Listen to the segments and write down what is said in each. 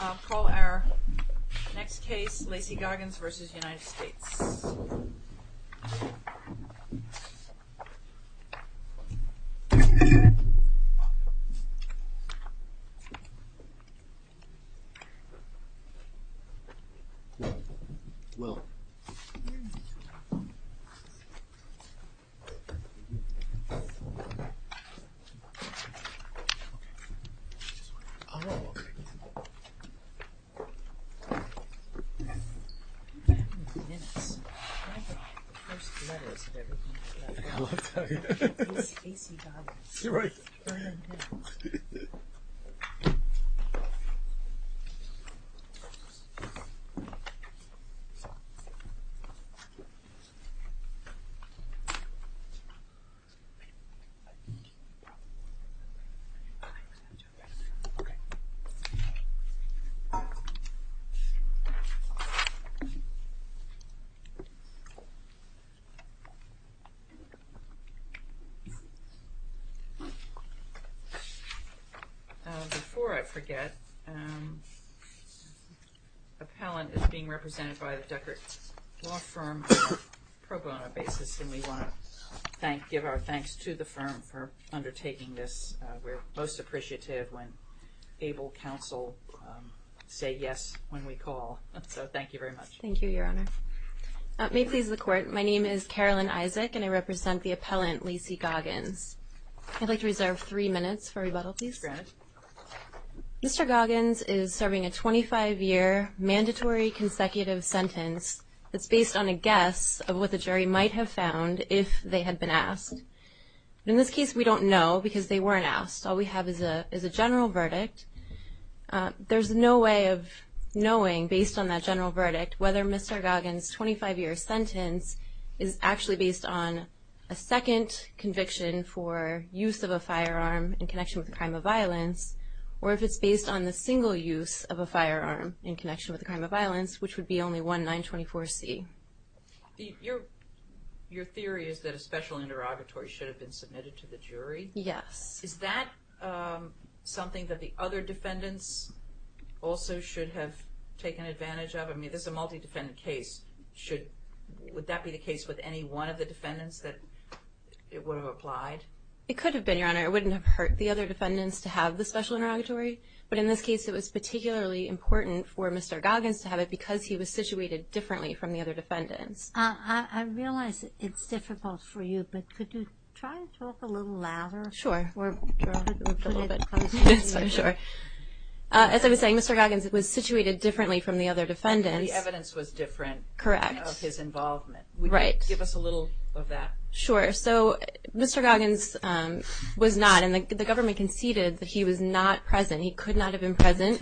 I'll call our next case, Lacy Goggans v. United States Lacy Goggans v. United States Before I forget, Appellant is being represented by the Deckert Law Firm on a pro bono basis and we want to give our thanks to the firm for undertaking this. We're most appreciative when able counsel say yes when we call. So thank you very much. Thank you, Your Honor. May it please the Court, my name is Carolyn Isaac and I represent the appellant Lacy Goggans. I'd like to reserve three minutes for rebuttal, please. Granted. Mr. Goggans is serving a 25-year mandatory consecutive sentence that's based on a guess of what the jury might have found if they had been asked. In this case, we don't know because they weren't asked. All we have is a general verdict. There's no way of knowing, based on that general verdict, whether Mr. Goggans' 25-year sentence is actually based on a second conviction for use of a firearm in connection with a crime of violence or if it's based on the single use of a firearm in connection with a crime of violence, which would be only one 924C. Your theory is that a special interrogatory should have been submitted to the jury? Yes. Is that something that the other defendants also should have taken advantage of? I mean, this is a multi-defendant case. Would that be the case with any one of the defendants that it would have applied? It could have been, Your Honor. It wouldn't have hurt the other defendants to have the special interrogatory. But in this case, it was particularly important for Mr. Goggans to have it because he was situated differently from the other defendants. I realize it's difficult for you, but could you try and talk a little louder? Sure. As I was saying, Mr. Goggans was situated differently from the other defendants. And the evidence was different. Correct. Of his involvement. Right. Give us a little of that. Sure. So Mr. Goggans was not, and the government conceded that he was not present. He could not have been present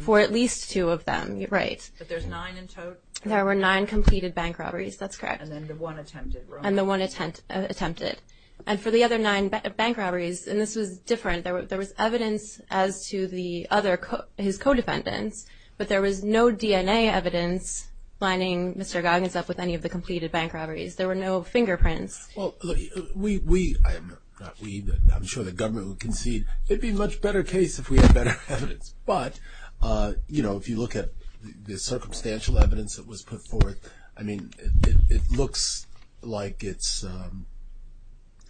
for at least two of them. Right. But there's nine in total? There were nine completed bank robberies. That's correct. And then the one attempted, right? And the one attempted. And for the other nine bank robberies, and this was different, there was evidence as to the other, his co-defendants, but there was no DNA evidence lining Mr. Goggans up with any of the completed bank robberies. There were no fingerprints. Well, we, I'm sure the government would concede, it would be a much better case if we had better evidence. But, you know, if you look at the circumstantial evidence that was put forth, I mean, it looks like it's.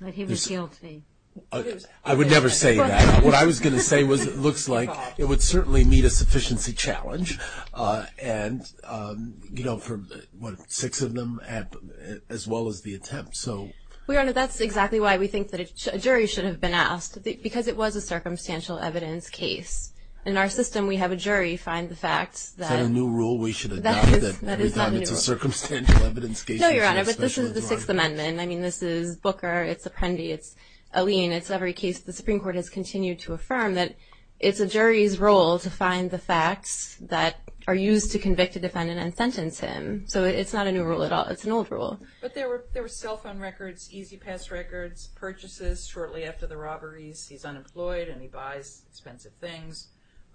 Like he was guilty. I would never say that. What I was going to say was it looks like it would certainly meet a sufficiency challenge. And, you know, for six of them, as well as the attempt, so. Your Honor, that's exactly why we think that a jury should have been asked, because it was a circumstantial evidence case. In our system, we have a jury find the facts that. Is that a new rule we should adopt, that every time it's a circumstantial evidence case. No, Your Honor, but this is the Sixth Amendment. I mean, this is Booker, it's Apprendi, it's Alleyne, it's every case the Supreme Court has continued to affirm, that it's a jury's role to find the facts that are used to convict a defendant and sentence him. So it's not a new rule at all. It's an old rule. But there were cell phone records, easy pass records, purchases shortly after the robberies. He's unemployed and he buys expensive things.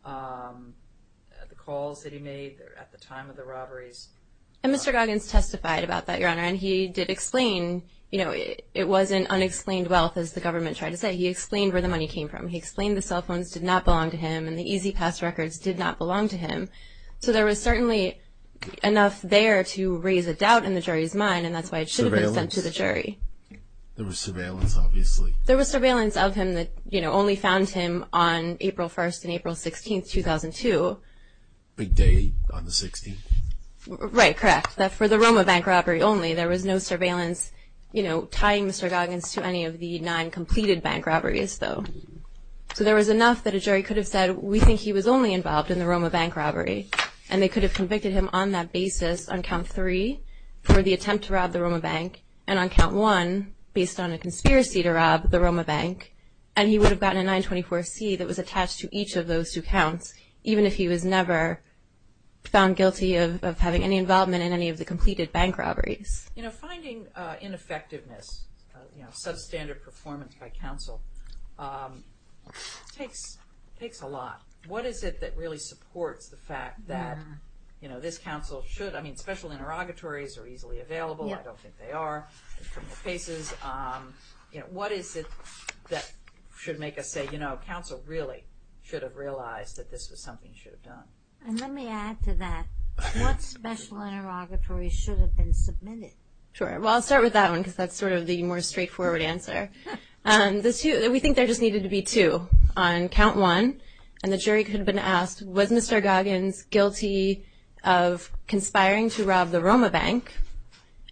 The calls that he made at the time of the robberies. And Mr. Goggins testified about that, Your Honor, and he did explain, you know, it wasn't unexplained wealth, as the government tried to say. He explained where the money came from. He explained the cell phones did not belong to him and the easy pass records did not belong to him. So there was certainly enough there to raise a doubt in the jury's mind, and that's why it should have been sent to the jury. There was surveillance, obviously. There was surveillance of him that, you know, only found him on April 1st and April 16th, 2002. Big day on the 16th. Right, correct. For the Roma bank robbery only, there was no surveillance, you know, tying Mr. Goggins to any of the nine completed bank robberies, though. So there was enough that a jury could have said, we think he was only involved in the Roma bank robbery, and they could have convicted him on that basis on count three for the attempt to rob the Roma bank, and on count one based on a conspiracy to rob the Roma bank, and he would have gotten a 924C that was attached to each of those two counts, even if he was never found guilty of having any involvement in any of the completed bank robberies. You know, finding ineffectiveness, you know, substandard performance by counsel takes a lot. What is it that really supports the fact that, you know, this counsel should, I mean, special interrogatories are easily available. I don't think they are. You know, what is it that should make us say, you know, counsel really should have realized that this was something he should have done? And let me add to that, what special interrogatory should have been submitted? Sure. Well, I'll start with that one because that's sort of the more straightforward answer. We think there just needed to be two on count one, and the jury could have been asked, was Mr. Goggins guilty of conspiring to rob the Roma bank,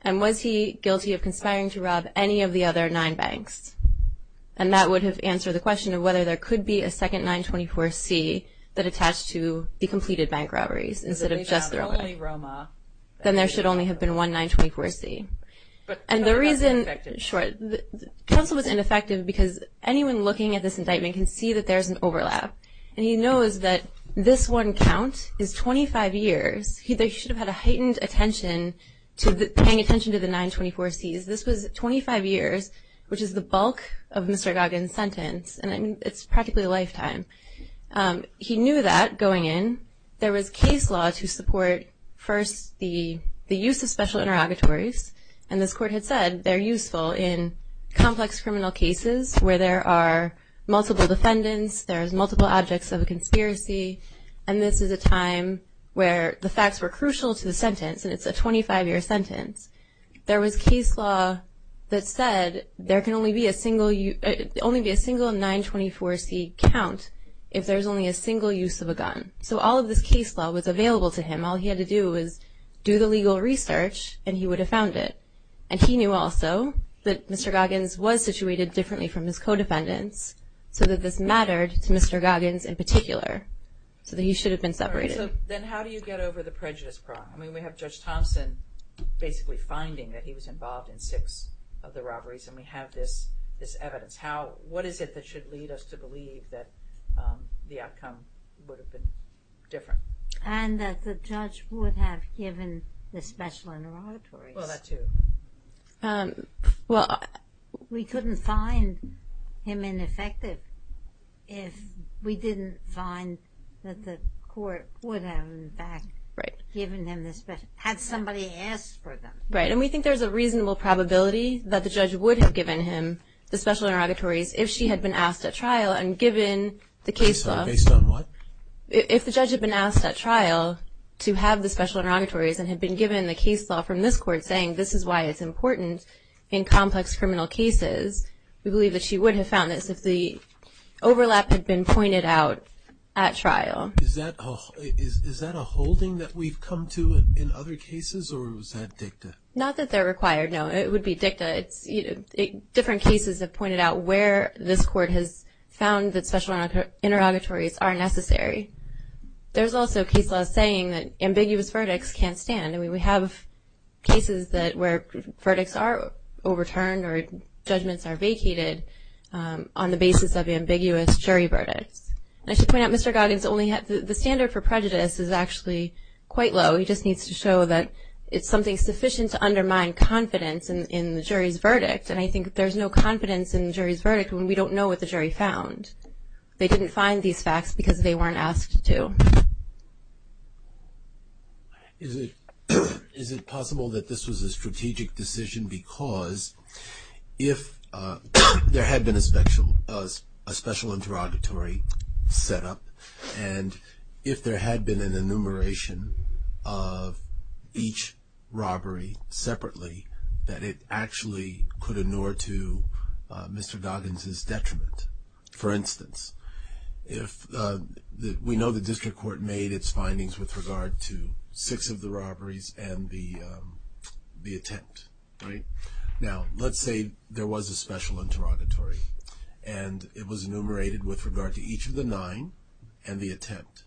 and was he guilty of conspiring to rob any of the other nine banks? And that would have answered the question of whether there could be a second 924C that attached to the completed bank robberies instead of just the Roma. Then there should only have been one 924C. And the reason, short, counsel was ineffective because anyone looking at this indictment can see that there's an overlap. And he knows that this one count is 25 years. He should have had a heightened attention to paying attention to the 924Cs. This was 25 years, which is the bulk of Mr. Goggins' sentence, and it's practically a lifetime. He knew that going in there was case law to support first the use of special interrogatories, and this court had said they're useful in complex criminal cases where there are multiple defendants, there's multiple objects of a conspiracy, and this is a time where the facts were crucial to the sentence, and it's a 25-year sentence. There was case law that said there can only be a single 924C count if there's only a single use of a gun. So all of this case law was available to him. All he had to do was do the legal research, and he would have found it. And he knew also that Mr. Goggins was situated differently from his co-defendants so that this mattered to Mr. Goggins in particular, so that he should have been separated. So then how do you get over the prejudice problem? I mean, we have Judge Thompson basically finding that he was involved in six of the robberies, and we have this evidence. What is it that should lead us to believe that the outcome would have been different? And that the judge would have given the special interrogatories. Well, that too. Well, we couldn't find him ineffective if we didn't find that the court would have, in fact, given him the special interrogatories had somebody asked for them. Right, and we think there's a reasonable probability that the judge would have given him the special interrogatories if she had been asked at trial and given the case law. Based on what? If the judge had been asked at trial to have the special interrogatories and had been given the case law from this court saying this is why it's important in complex criminal cases, we believe that she would have found this if the overlap had been pointed out at trial. Is that a holding that we've come to in other cases, or is that dicta? Not that they're required, no. It would be dicta. Different cases have pointed out where this court has found that special interrogatories are necessary. There's also case law saying that ambiguous verdicts can't stand. I mean, we have cases where verdicts are overturned or judgments are vacated on the basis of ambiguous jury verdicts. And I should point out, Mr. Goggins, the standard for prejudice is actually quite low. He just needs to show that it's something sufficient to undermine confidence in the jury's verdict. And I think there's no confidence in the jury's verdict when we don't know what the jury found. They didn't find these facts because they weren't asked to. Is it possible that this was a strategic decision because if there had been a special interrogatory set up and if there had been an enumeration of each robbery separately, that it actually could inure to Mr. Goggins' detriment? For instance, we know the district court made its findings with regard to six of the robberies and the attempt. Now, let's say there was a special interrogatory and it was enumerated with regard to each of the nine and the attempt.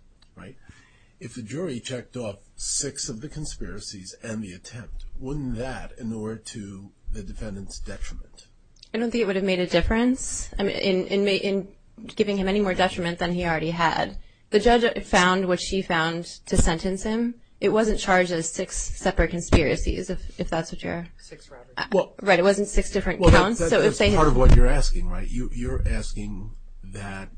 If the jury checked off six of the conspiracies and the attempt, wouldn't that inure to the defendant's detriment? I don't think it would have made a difference in giving him any more detriment than he already had. The judge found what she found to sentence him. It wasn't charged as six separate conspiracies, if that's what you're – Six robberies. Right, it wasn't six different counts. That's part of what you're asking, right? You're asking that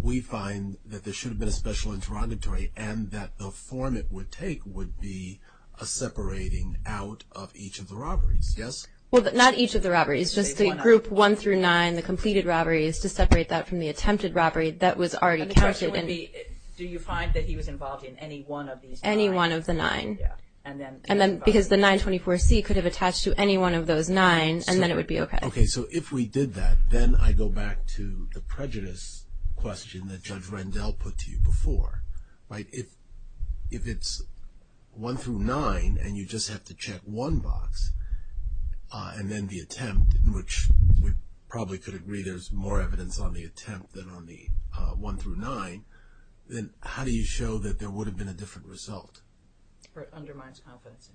we find that there should have been a special interrogatory and that the form it would take would be a separating out of each of the robberies, yes? Well, not each of the robberies, just the group one through nine, the completed robberies, to separate that from the attempted robbery that was already counted. And the question would be, do you find that he was involved in any one of these robberies? Any one of the nine. Yeah. And then – Because the 924C could have attached to any one of those nine and then it would be okay. Okay, so if we did that, then I go back to the prejudice question that Judge Rendell put to you before, right? If it's one through nine and you just have to check one box and then the attempt, which we probably could agree there's more evidence on the attempt than on the one through nine, then how do you show that there would have been a different result? It undermines confidence.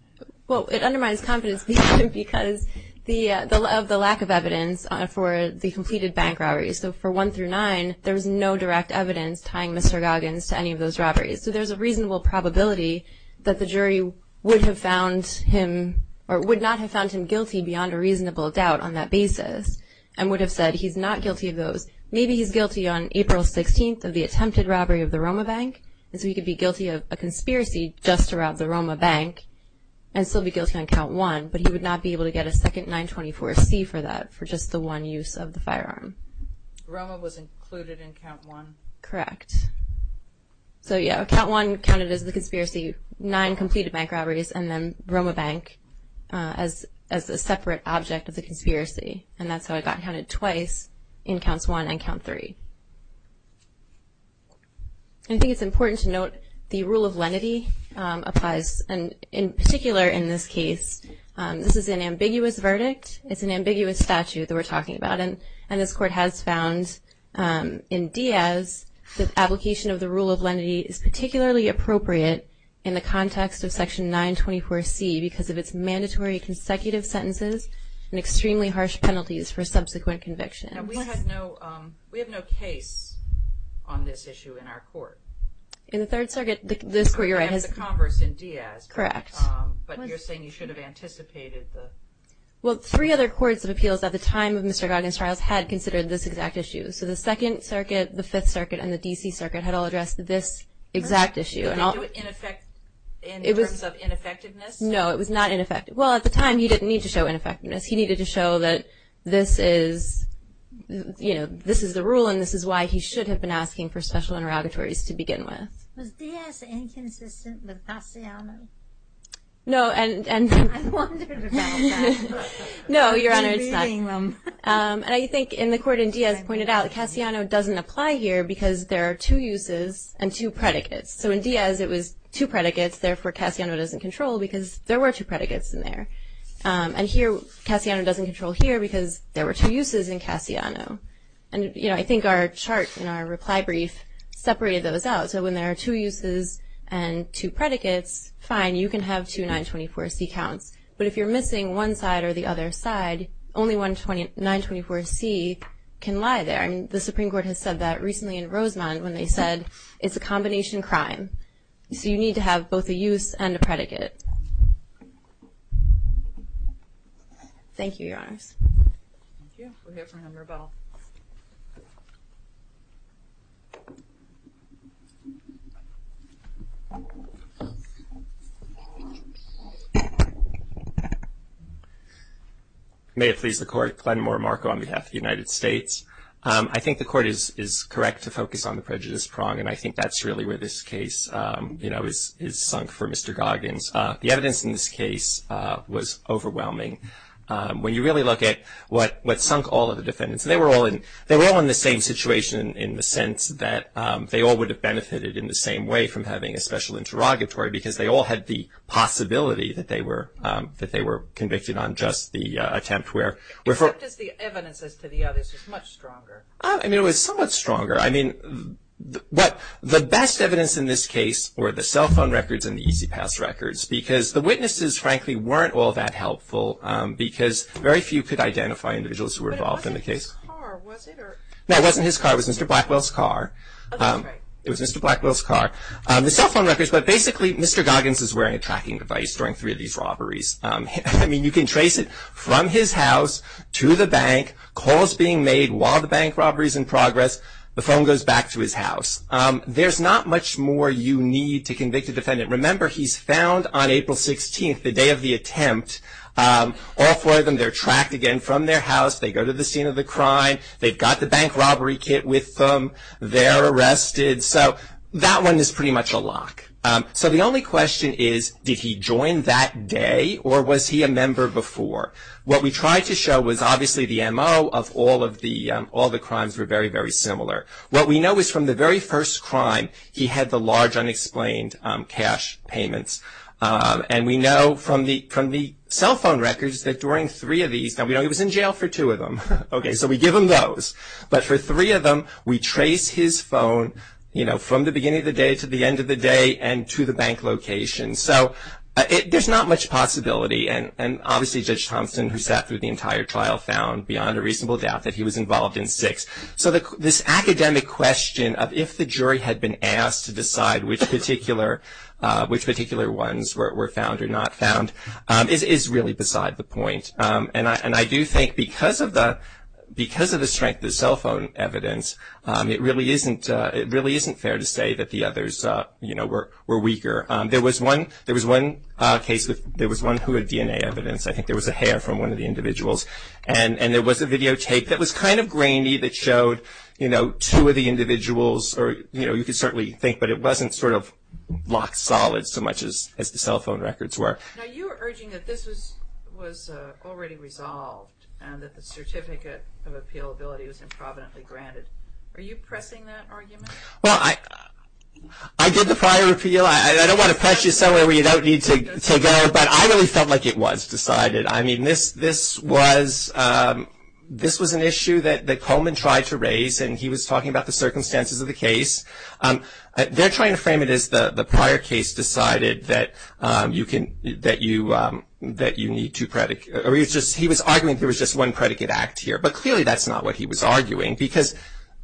Well, it undermines confidence because of the lack of evidence for the completed bank robberies. So for one through nine, there's no direct evidence tying Mr. Goggins to any of those robberies. So there's a reasonable probability that the jury would have found him or would not have found him guilty beyond a reasonable doubt on that basis and would have said he's not guilty of those. Maybe he's guilty on April 16th of the attempted robbery of the Roma Bank, and so he could be guilty of a conspiracy just to rob the Roma Bank and still be guilty on count one, but he would not be able to get a second 924C for that for just the one use of the firearm. Roma was included in count one? Correct. So yeah, count one counted as the conspiracy, nine completed bank robberies, and then Roma Bank as a separate object of the conspiracy, and that's how it got counted twice in counts one and count three. I think it's important to note the rule of lenity applies, and in particular in this case. This is an ambiguous verdict. It's an ambiguous statute that we're talking about, and this Court has found in Diaz that application of the rule of lenity is particularly appropriate in the context of Section 924C because of its mandatory consecutive sentences and extremely harsh penalties for subsequent convictions. Now, we have no case on this issue in our court. In the Third Circuit, this Court, you're right, has Correct. But you're saying you should have anticipated the Well, three other courts of appeals at the time of Mr. Goggins' trials had considered this exact issue. So the Second Circuit, the Fifth Circuit, and the D.C. Circuit had all addressed this exact issue. In terms of ineffectiveness? No, it was not ineffective. Well, at the time, he didn't need to show ineffectiveness. He needed to show that this is, you know, this is the rule, and this is why he should have been asking for special interrogatories to begin with. Was Diaz inconsistent with Cassiano? No, and I wondered about that. No, Your Honor, it's not. I've been reading them. And I think in the court in Diaz pointed out that Cassiano doesn't apply here because there are two uses and two predicates. So in Diaz, it was two predicates. Therefore, Cassiano doesn't control because there were two predicates in there. And here, Cassiano doesn't control here because there were two uses in Cassiano. And, you know, I think our chart in our reply brief separated those out. So when there are two uses and two predicates, fine, you can have two 924C counts. But if you're missing one side or the other side, only 924C can lie there. And the Supreme Court has said that recently in Rosemont when they said it's a combination crime. So you need to have both a use and a predicate. Thank you, Your Honors. Thank you. We'll hear from Henry Bell. May it please the Court. Glenn Moore, Marco, on behalf of the United States. I think the Court is correct to focus on the prejudice prong, and I think that's really where this case, you know, is sunk for Mr. Goggins. The evidence in this case was overwhelming. When you really look at what sunk all of the defendants, they were all in the same situation in the sense that they all would have benefited in the same way from having a special interrogatory because they all had the possibility that they were convicted on just the attempt. Except as the evidence as to the others was much stronger. I mean, it was somewhat stronger. I mean, the best evidence in this case were the cell phone records and the easy pass records because the witnesses, frankly, weren't all that helpful because very few could identify individuals who were involved in the case. But it wasn't his car, was it? No, it wasn't his car. It was Mr. Blackwell's car. Oh, that's right. It was Mr. Blackwell's car. The cell phone records, but basically Mr. Goggins is wearing a tracking device during three of these robberies. I mean, you can trace it from his house to the bank, calls being made while the bank robbery is in progress, the phone goes back to his house. There's not much more you need to convict a defendant. Remember, he's found on April 16th, the day of the attempt. All four of them, they're tracked again from their house. They go to the scene of the crime. They've got the bank robbery kit with them. They're arrested. So that one is pretty much a lock. So the only question is, did he join that day or was he a member before? What we tried to show was obviously the MO of all the crimes were very, very similar. What we know is from the very first crime, he had the large unexplained cash payments. And we know from the cell phone records that during three of these, now we know he was in jail for two of them. Okay. So we give him those. But for three of them, we trace his phone, you know, from the beginning of the day to the end of the day and to the bank location. So there's not much possibility. And obviously Judge Thompson, who sat through the entire trial, found beyond a reasonable doubt that he was involved in six. So this academic question of if the jury had been asked to decide which particular ones were found or not found, is really beside the point. And I do think because of the strength of the cell phone evidence, it really isn't fair to say that the others, you know, were weaker. There was one case that there was one who had DNA evidence. And there was a videotape that was kind of grainy that showed, you know, two of the individuals. Or, you know, you could certainly think. But it wasn't sort of rock solid so much as the cell phone records were. Now you were urging that this was already resolved and that the certificate of appealability was improvidently granted. Are you pressing that argument? Well, I did the prior appeal. I don't want to press you somewhere where you don't need to go. But I really felt like it was decided. I mean, this was an issue that Coleman tried to raise, and he was talking about the circumstances of the case. They're trying to frame it as the prior case decided that you need two predicates. He was arguing there was just one predicate act here. But clearly that's not what he was arguing because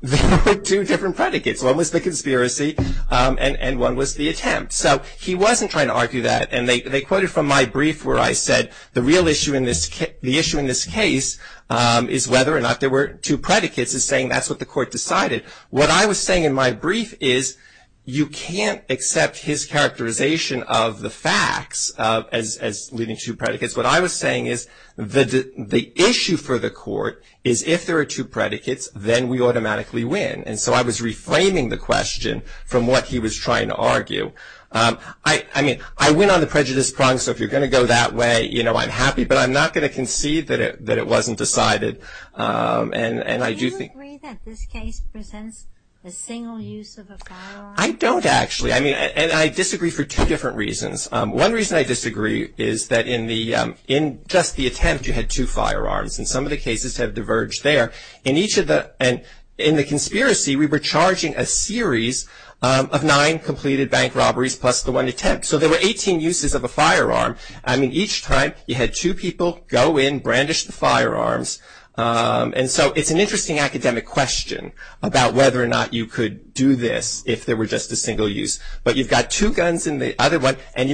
there were two different predicates. One was the conspiracy and one was the attempt. So he wasn't trying to argue that. And they quoted from my brief where I said the real issue in this case is whether or not there were two predicates is saying that's what the court decided. What I was saying in my brief is you can't accept his characterization of the facts as leading to two predicates. What I was saying is the issue for the court is if there are two predicates, then we automatically win. And so I was reframing the question from what he was trying to argue. I mean, I went on the prejudice prong, so if you're going to go that way, you know, I'm happy. But I'm not going to concede that it wasn't decided. And I do think. Do you agree that this case presents a single use of a firearm? I don't actually. I mean, and I disagree for two different reasons. One reason I disagree is that in just the attempt you had two firearms, and some of the cases have diverged there. In the conspiracy, we were charging a series of nine completed bank robberies plus the one attempt. So there were 18 uses of a firearm. I mean, each time you had two people go in, brandish the firearms. And so it's an interesting academic question about whether or not you could do this if there were just a single use. But you've got two guns in the other one, And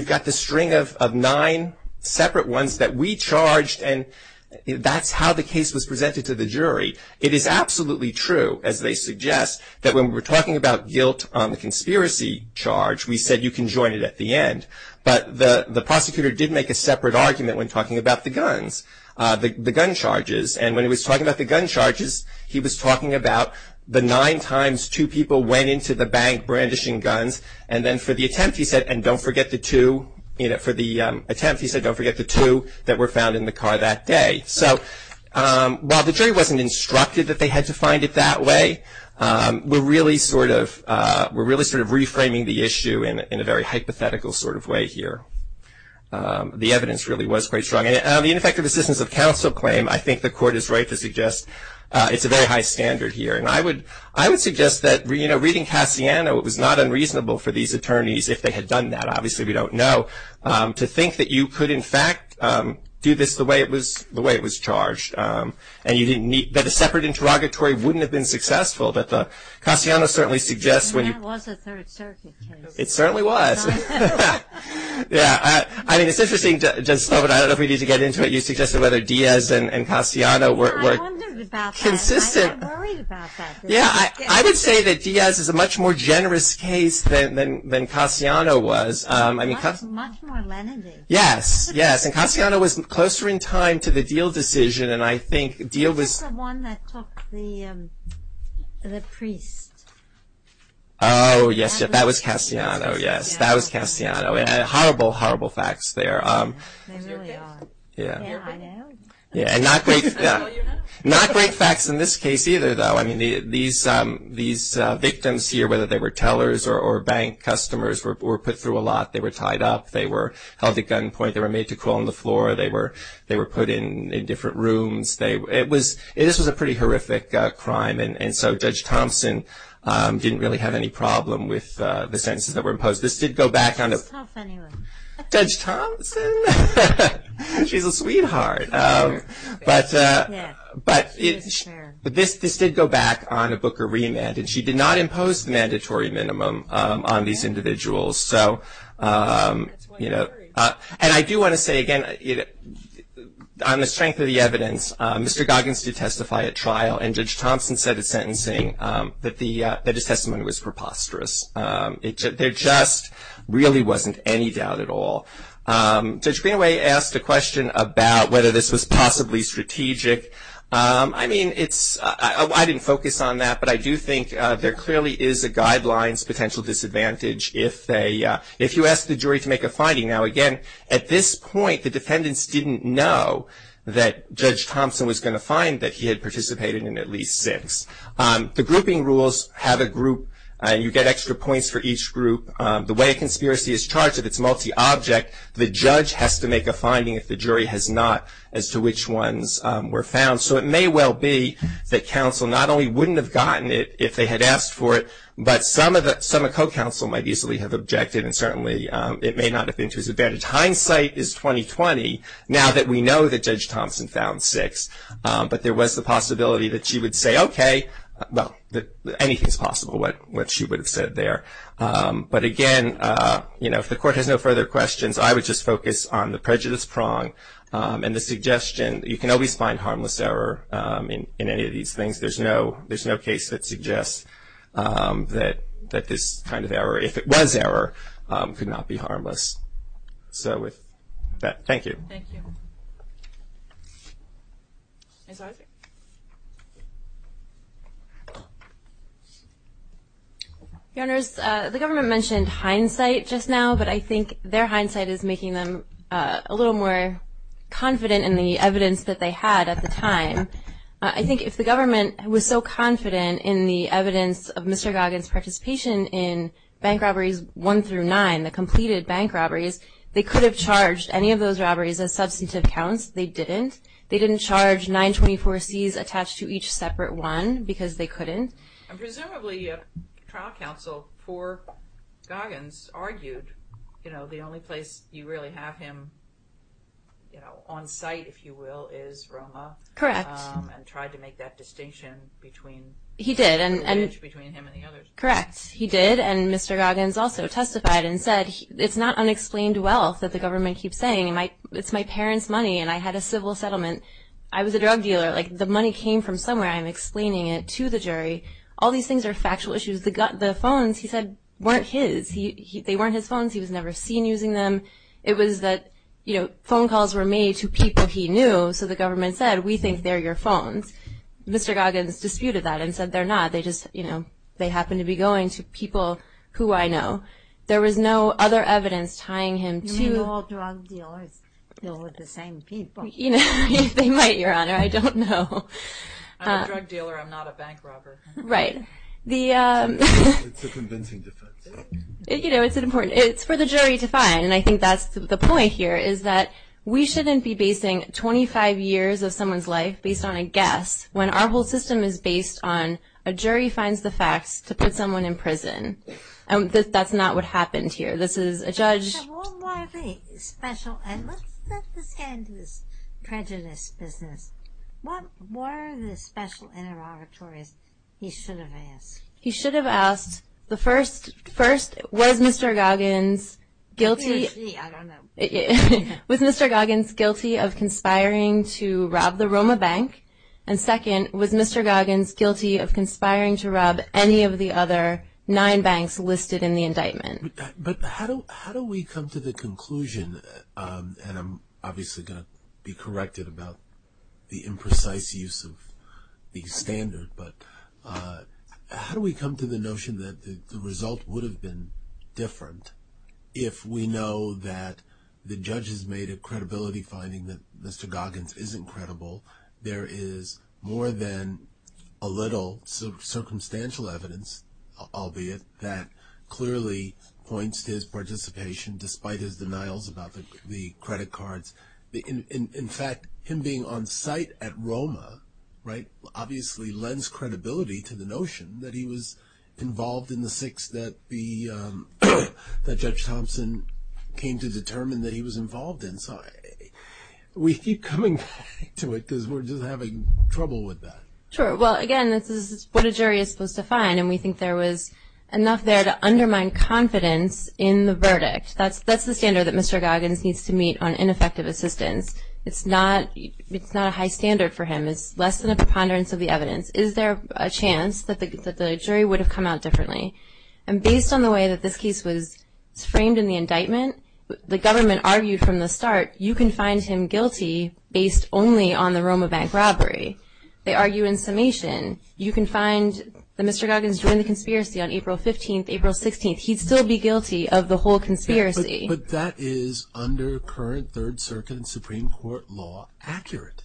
that's how the case was presented to the jury. It is absolutely true, as they suggest, that when we were talking about guilt on the conspiracy charge, we said you can join it at the end. But the prosecutor did make a separate argument when talking about the guns, the gun charges. And when he was talking about the gun charges, he was talking about the nine times two people went into the bank brandishing guns. And then for the attempt he said, and don't forget the two, for the attempt he said don't forget the two that were found in the car that day. So while the jury wasn't instructed that they had to find it that way, we're really sort of reframing the issue in a very hypothetical sort of way here. The evidence really was quite strong. And the ineffective assistance of counsel claim, I think the court is right to suggest, it's a very high standard here. And I would suggest that, you know, reading Cassiano, it was not unreasonable for these attorneys, if they had done that, obviously we don't know, to think that you could in fact do this the way it was charged. And that a separate interrogatory wouldn't have been successful. But Cassiano certainly suggests when you. And that was a third circuit case. It certainly was. Yeah, I mean it's interesting, I don't know if we need to get into it. You suggested whether Diaz and Cassiano were consistent. I'm not worried about that. Yeah, I would say that Diaz is a much more generous case than Cassiano was. Much more lenient. Yes, yes. And Cassiano was closer in time to the Deal decision, and I think Deal was. What about the one that took the priest? Oh, yes, that was Cassiano, yes. That was Cassiano. Horrible, horrible facts there. They really are. Yeah. Yeah, I know. Yeah, and not great facts in this case either, though. I mean these victims here, whether they were tellers or bank customers, were put through a lot. They were tied up. They were held at gunpoint. They were made to crawl on the floor. They were put in different rooms. This was a pretty horrific crime, and so Judge Thompson didn't really have any problem with the sentences that were imposed. This did go back on to. Judge Thompson? She's a sweetheart. But this did go back on a Booker remand, and she did not impose the mandatory minimum on these individuals. And I do want to say, again, on the strength of the evidence, Mr. Goggins did testify at trial, and Judge Thompson said at sentencing that his testimony was preposterous. There just really wasn't any doubt at all. Judge Greenaway asked a question about whether this was possibly strategic. I mean, I didn't focus on that, but I do think there clearly is a guidelines potential disadvantage if you ask the jury to make a finding. Now, again, at this point, the defendants didn't know that Judge Thompson was going to find that he had participated in at least six. The grouping rules have a group, and you get extra points for each group. The way a conspiracy is charged, if it's multi-object, the judge has to make a finding if the jury has not as to which ones were found. So it may well be that counsel not only wouldn't have gotten it if they had asked for it, but some of co-counsel might easily have objected, and certainly it may not have been to his advantage. Hindsight is 20-20 now that we know that Judge Thompson found six. But there was the possibility that she would say, okay, well, anything's possible, what she would have said there. But again, you know, if the court has no further questions, I would just focus on the prejudice prong and the suggestion that you can always find harmless error in any of these things. There's no case that suggests that this kind of error, if it was error, could not be harmless. So with that, thank you. Thank you. Your Honors, the government mentioned hindsight just now, but I think their hindsight is making them a little more confident in the evidence that they had at the time. I think if the government was so confident in the evidence of Mr. Goggins' participation in bank robberies one through nine, the completed bank robberies, they could have charged any of those robberies as substantive counts. They didn't. They didn't charge 924Cs attached to each separate one because they couldn't. Presumably, trial counsel for Goggins argued, you know, the only place you really have him on site, if you will, is Roma. Correct. And tried to make that distinction between him and the others. Correct. He did, and Mr. Goggins also testified and said, it's not unexplained wealth that the government keeps saying. It's my parents' money, and I had a civil settlement. I was a drug dealer. Like, the money came from somewhere. I'm explaining it to the jury. All these things are factual issues. The phones, he said, weren't his. They weren't his phones. He was never seen using them. It was that, you know, phone calls were made to people he knew, so the government said, we think they're your phones. Mr. Goggins disputed that and said they're not. They just, you know, they happen to be going to people who I know. There was no other evidence tying him to. You mean all drug dealers deal with the same people. They might, Your Honor. I don't know. I'm a drug dealer. I'm not a bank robber. Right. It's a convincing defense. You know, it's important. It's for the jury to find, and I think that's the point here, is that we shouldn't be basing 25 years of someone's life based on a guess when our whole system is based on a jury finds the facts to put someone in prison. That's not what happened here. This is a judge. So what were the special, and let's let this hand to this prejudice business. What were the special interrogatories he should have asked? He should have asked, first, was Mr. Goggins guilty of conspiring to rob the Roma Bank? And second, was Mr. Goggins guilty of conspiring to rob any of the other nine banks listed in the indictment? But how do we come to the conclusion, and I'm obviously going to be corrected about the imprecise use of the standard, but how do we come to the notion that the result would have been different if we know that the judge has made a credibility finding that Mr. Goggins isn't credible, there is more than a little circumstantial evidence, albeit, that clearly points to his participation despite his denials about the credit cards. In fact, him being on site at Roma, right, obviously lends credibility to the notion that he was involved in the six that Judge Thompson came to determine that he was involved in. So we keep coming back to it because we're just having trouble with that. Sure. Well, again, this is what a jury is supposed to find, and we think there was enough there to undermine confidence in the verdict. That's the standard that Mr. Goggins needs to meet on ineffective assistance. It's not a high standard for him. It's less than a preponderance of the evidence. Is there a chance that the jury would have come out differently? And based on the way that this case was framed in the indictment, the government argued from the start you can find him guilty based only on the Roma bank robbery. They argue in summation. You can find that Mr. Goggins joined the conspiracy on April 15th, April 16th. He'd still be guilty of the whole conspiracy. But that is under current Third Circuit and Supreme Court law accurate.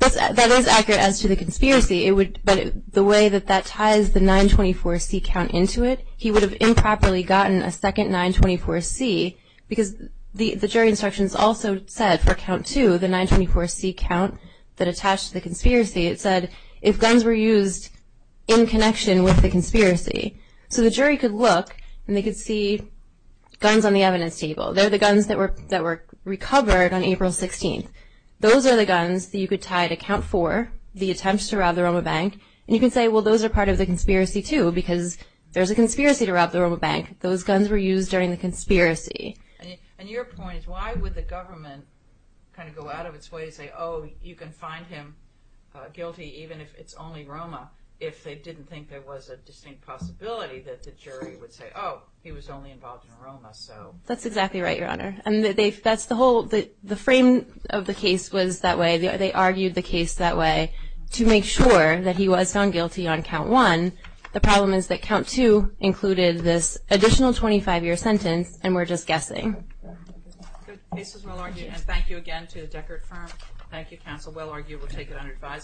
That is accurate as to the conspiracy, but the way that that ties the 924C count into it, he would have improperly gotten a second 924C because the jury instructions also said for count two, the 924C count that attached to the conspiracy, it said if guns were used in connection with the conspiracy. So the jury could look and they could see guns on the evidence table. They're the guns that were recovered on April 16th. Those are the guns that you could tie to count four, the attempts to rob the Roma bank. And you can say, well, those are part of the conspiracy, too, because there's a conspiracy to rob the Roma bank. Those guns were used during the conspiracy. And your point is why would the government kind of go out of its way to say, oh, you can find him guilty even if it's only Roma if they didn't think there was a distinct possibility that the jury would say, oh, he was only involved in Roma. That's exactly right, Your Honor. And that's the whole frame of the case was that way. To make sure that he was found guilty on count one, the problem is that count two included this additional 25-year sentence, and we're just guessing. The case is well argued. And thank you again to the Deckert firm. Thank you, counsel. Well argued. We'll take it under advisement.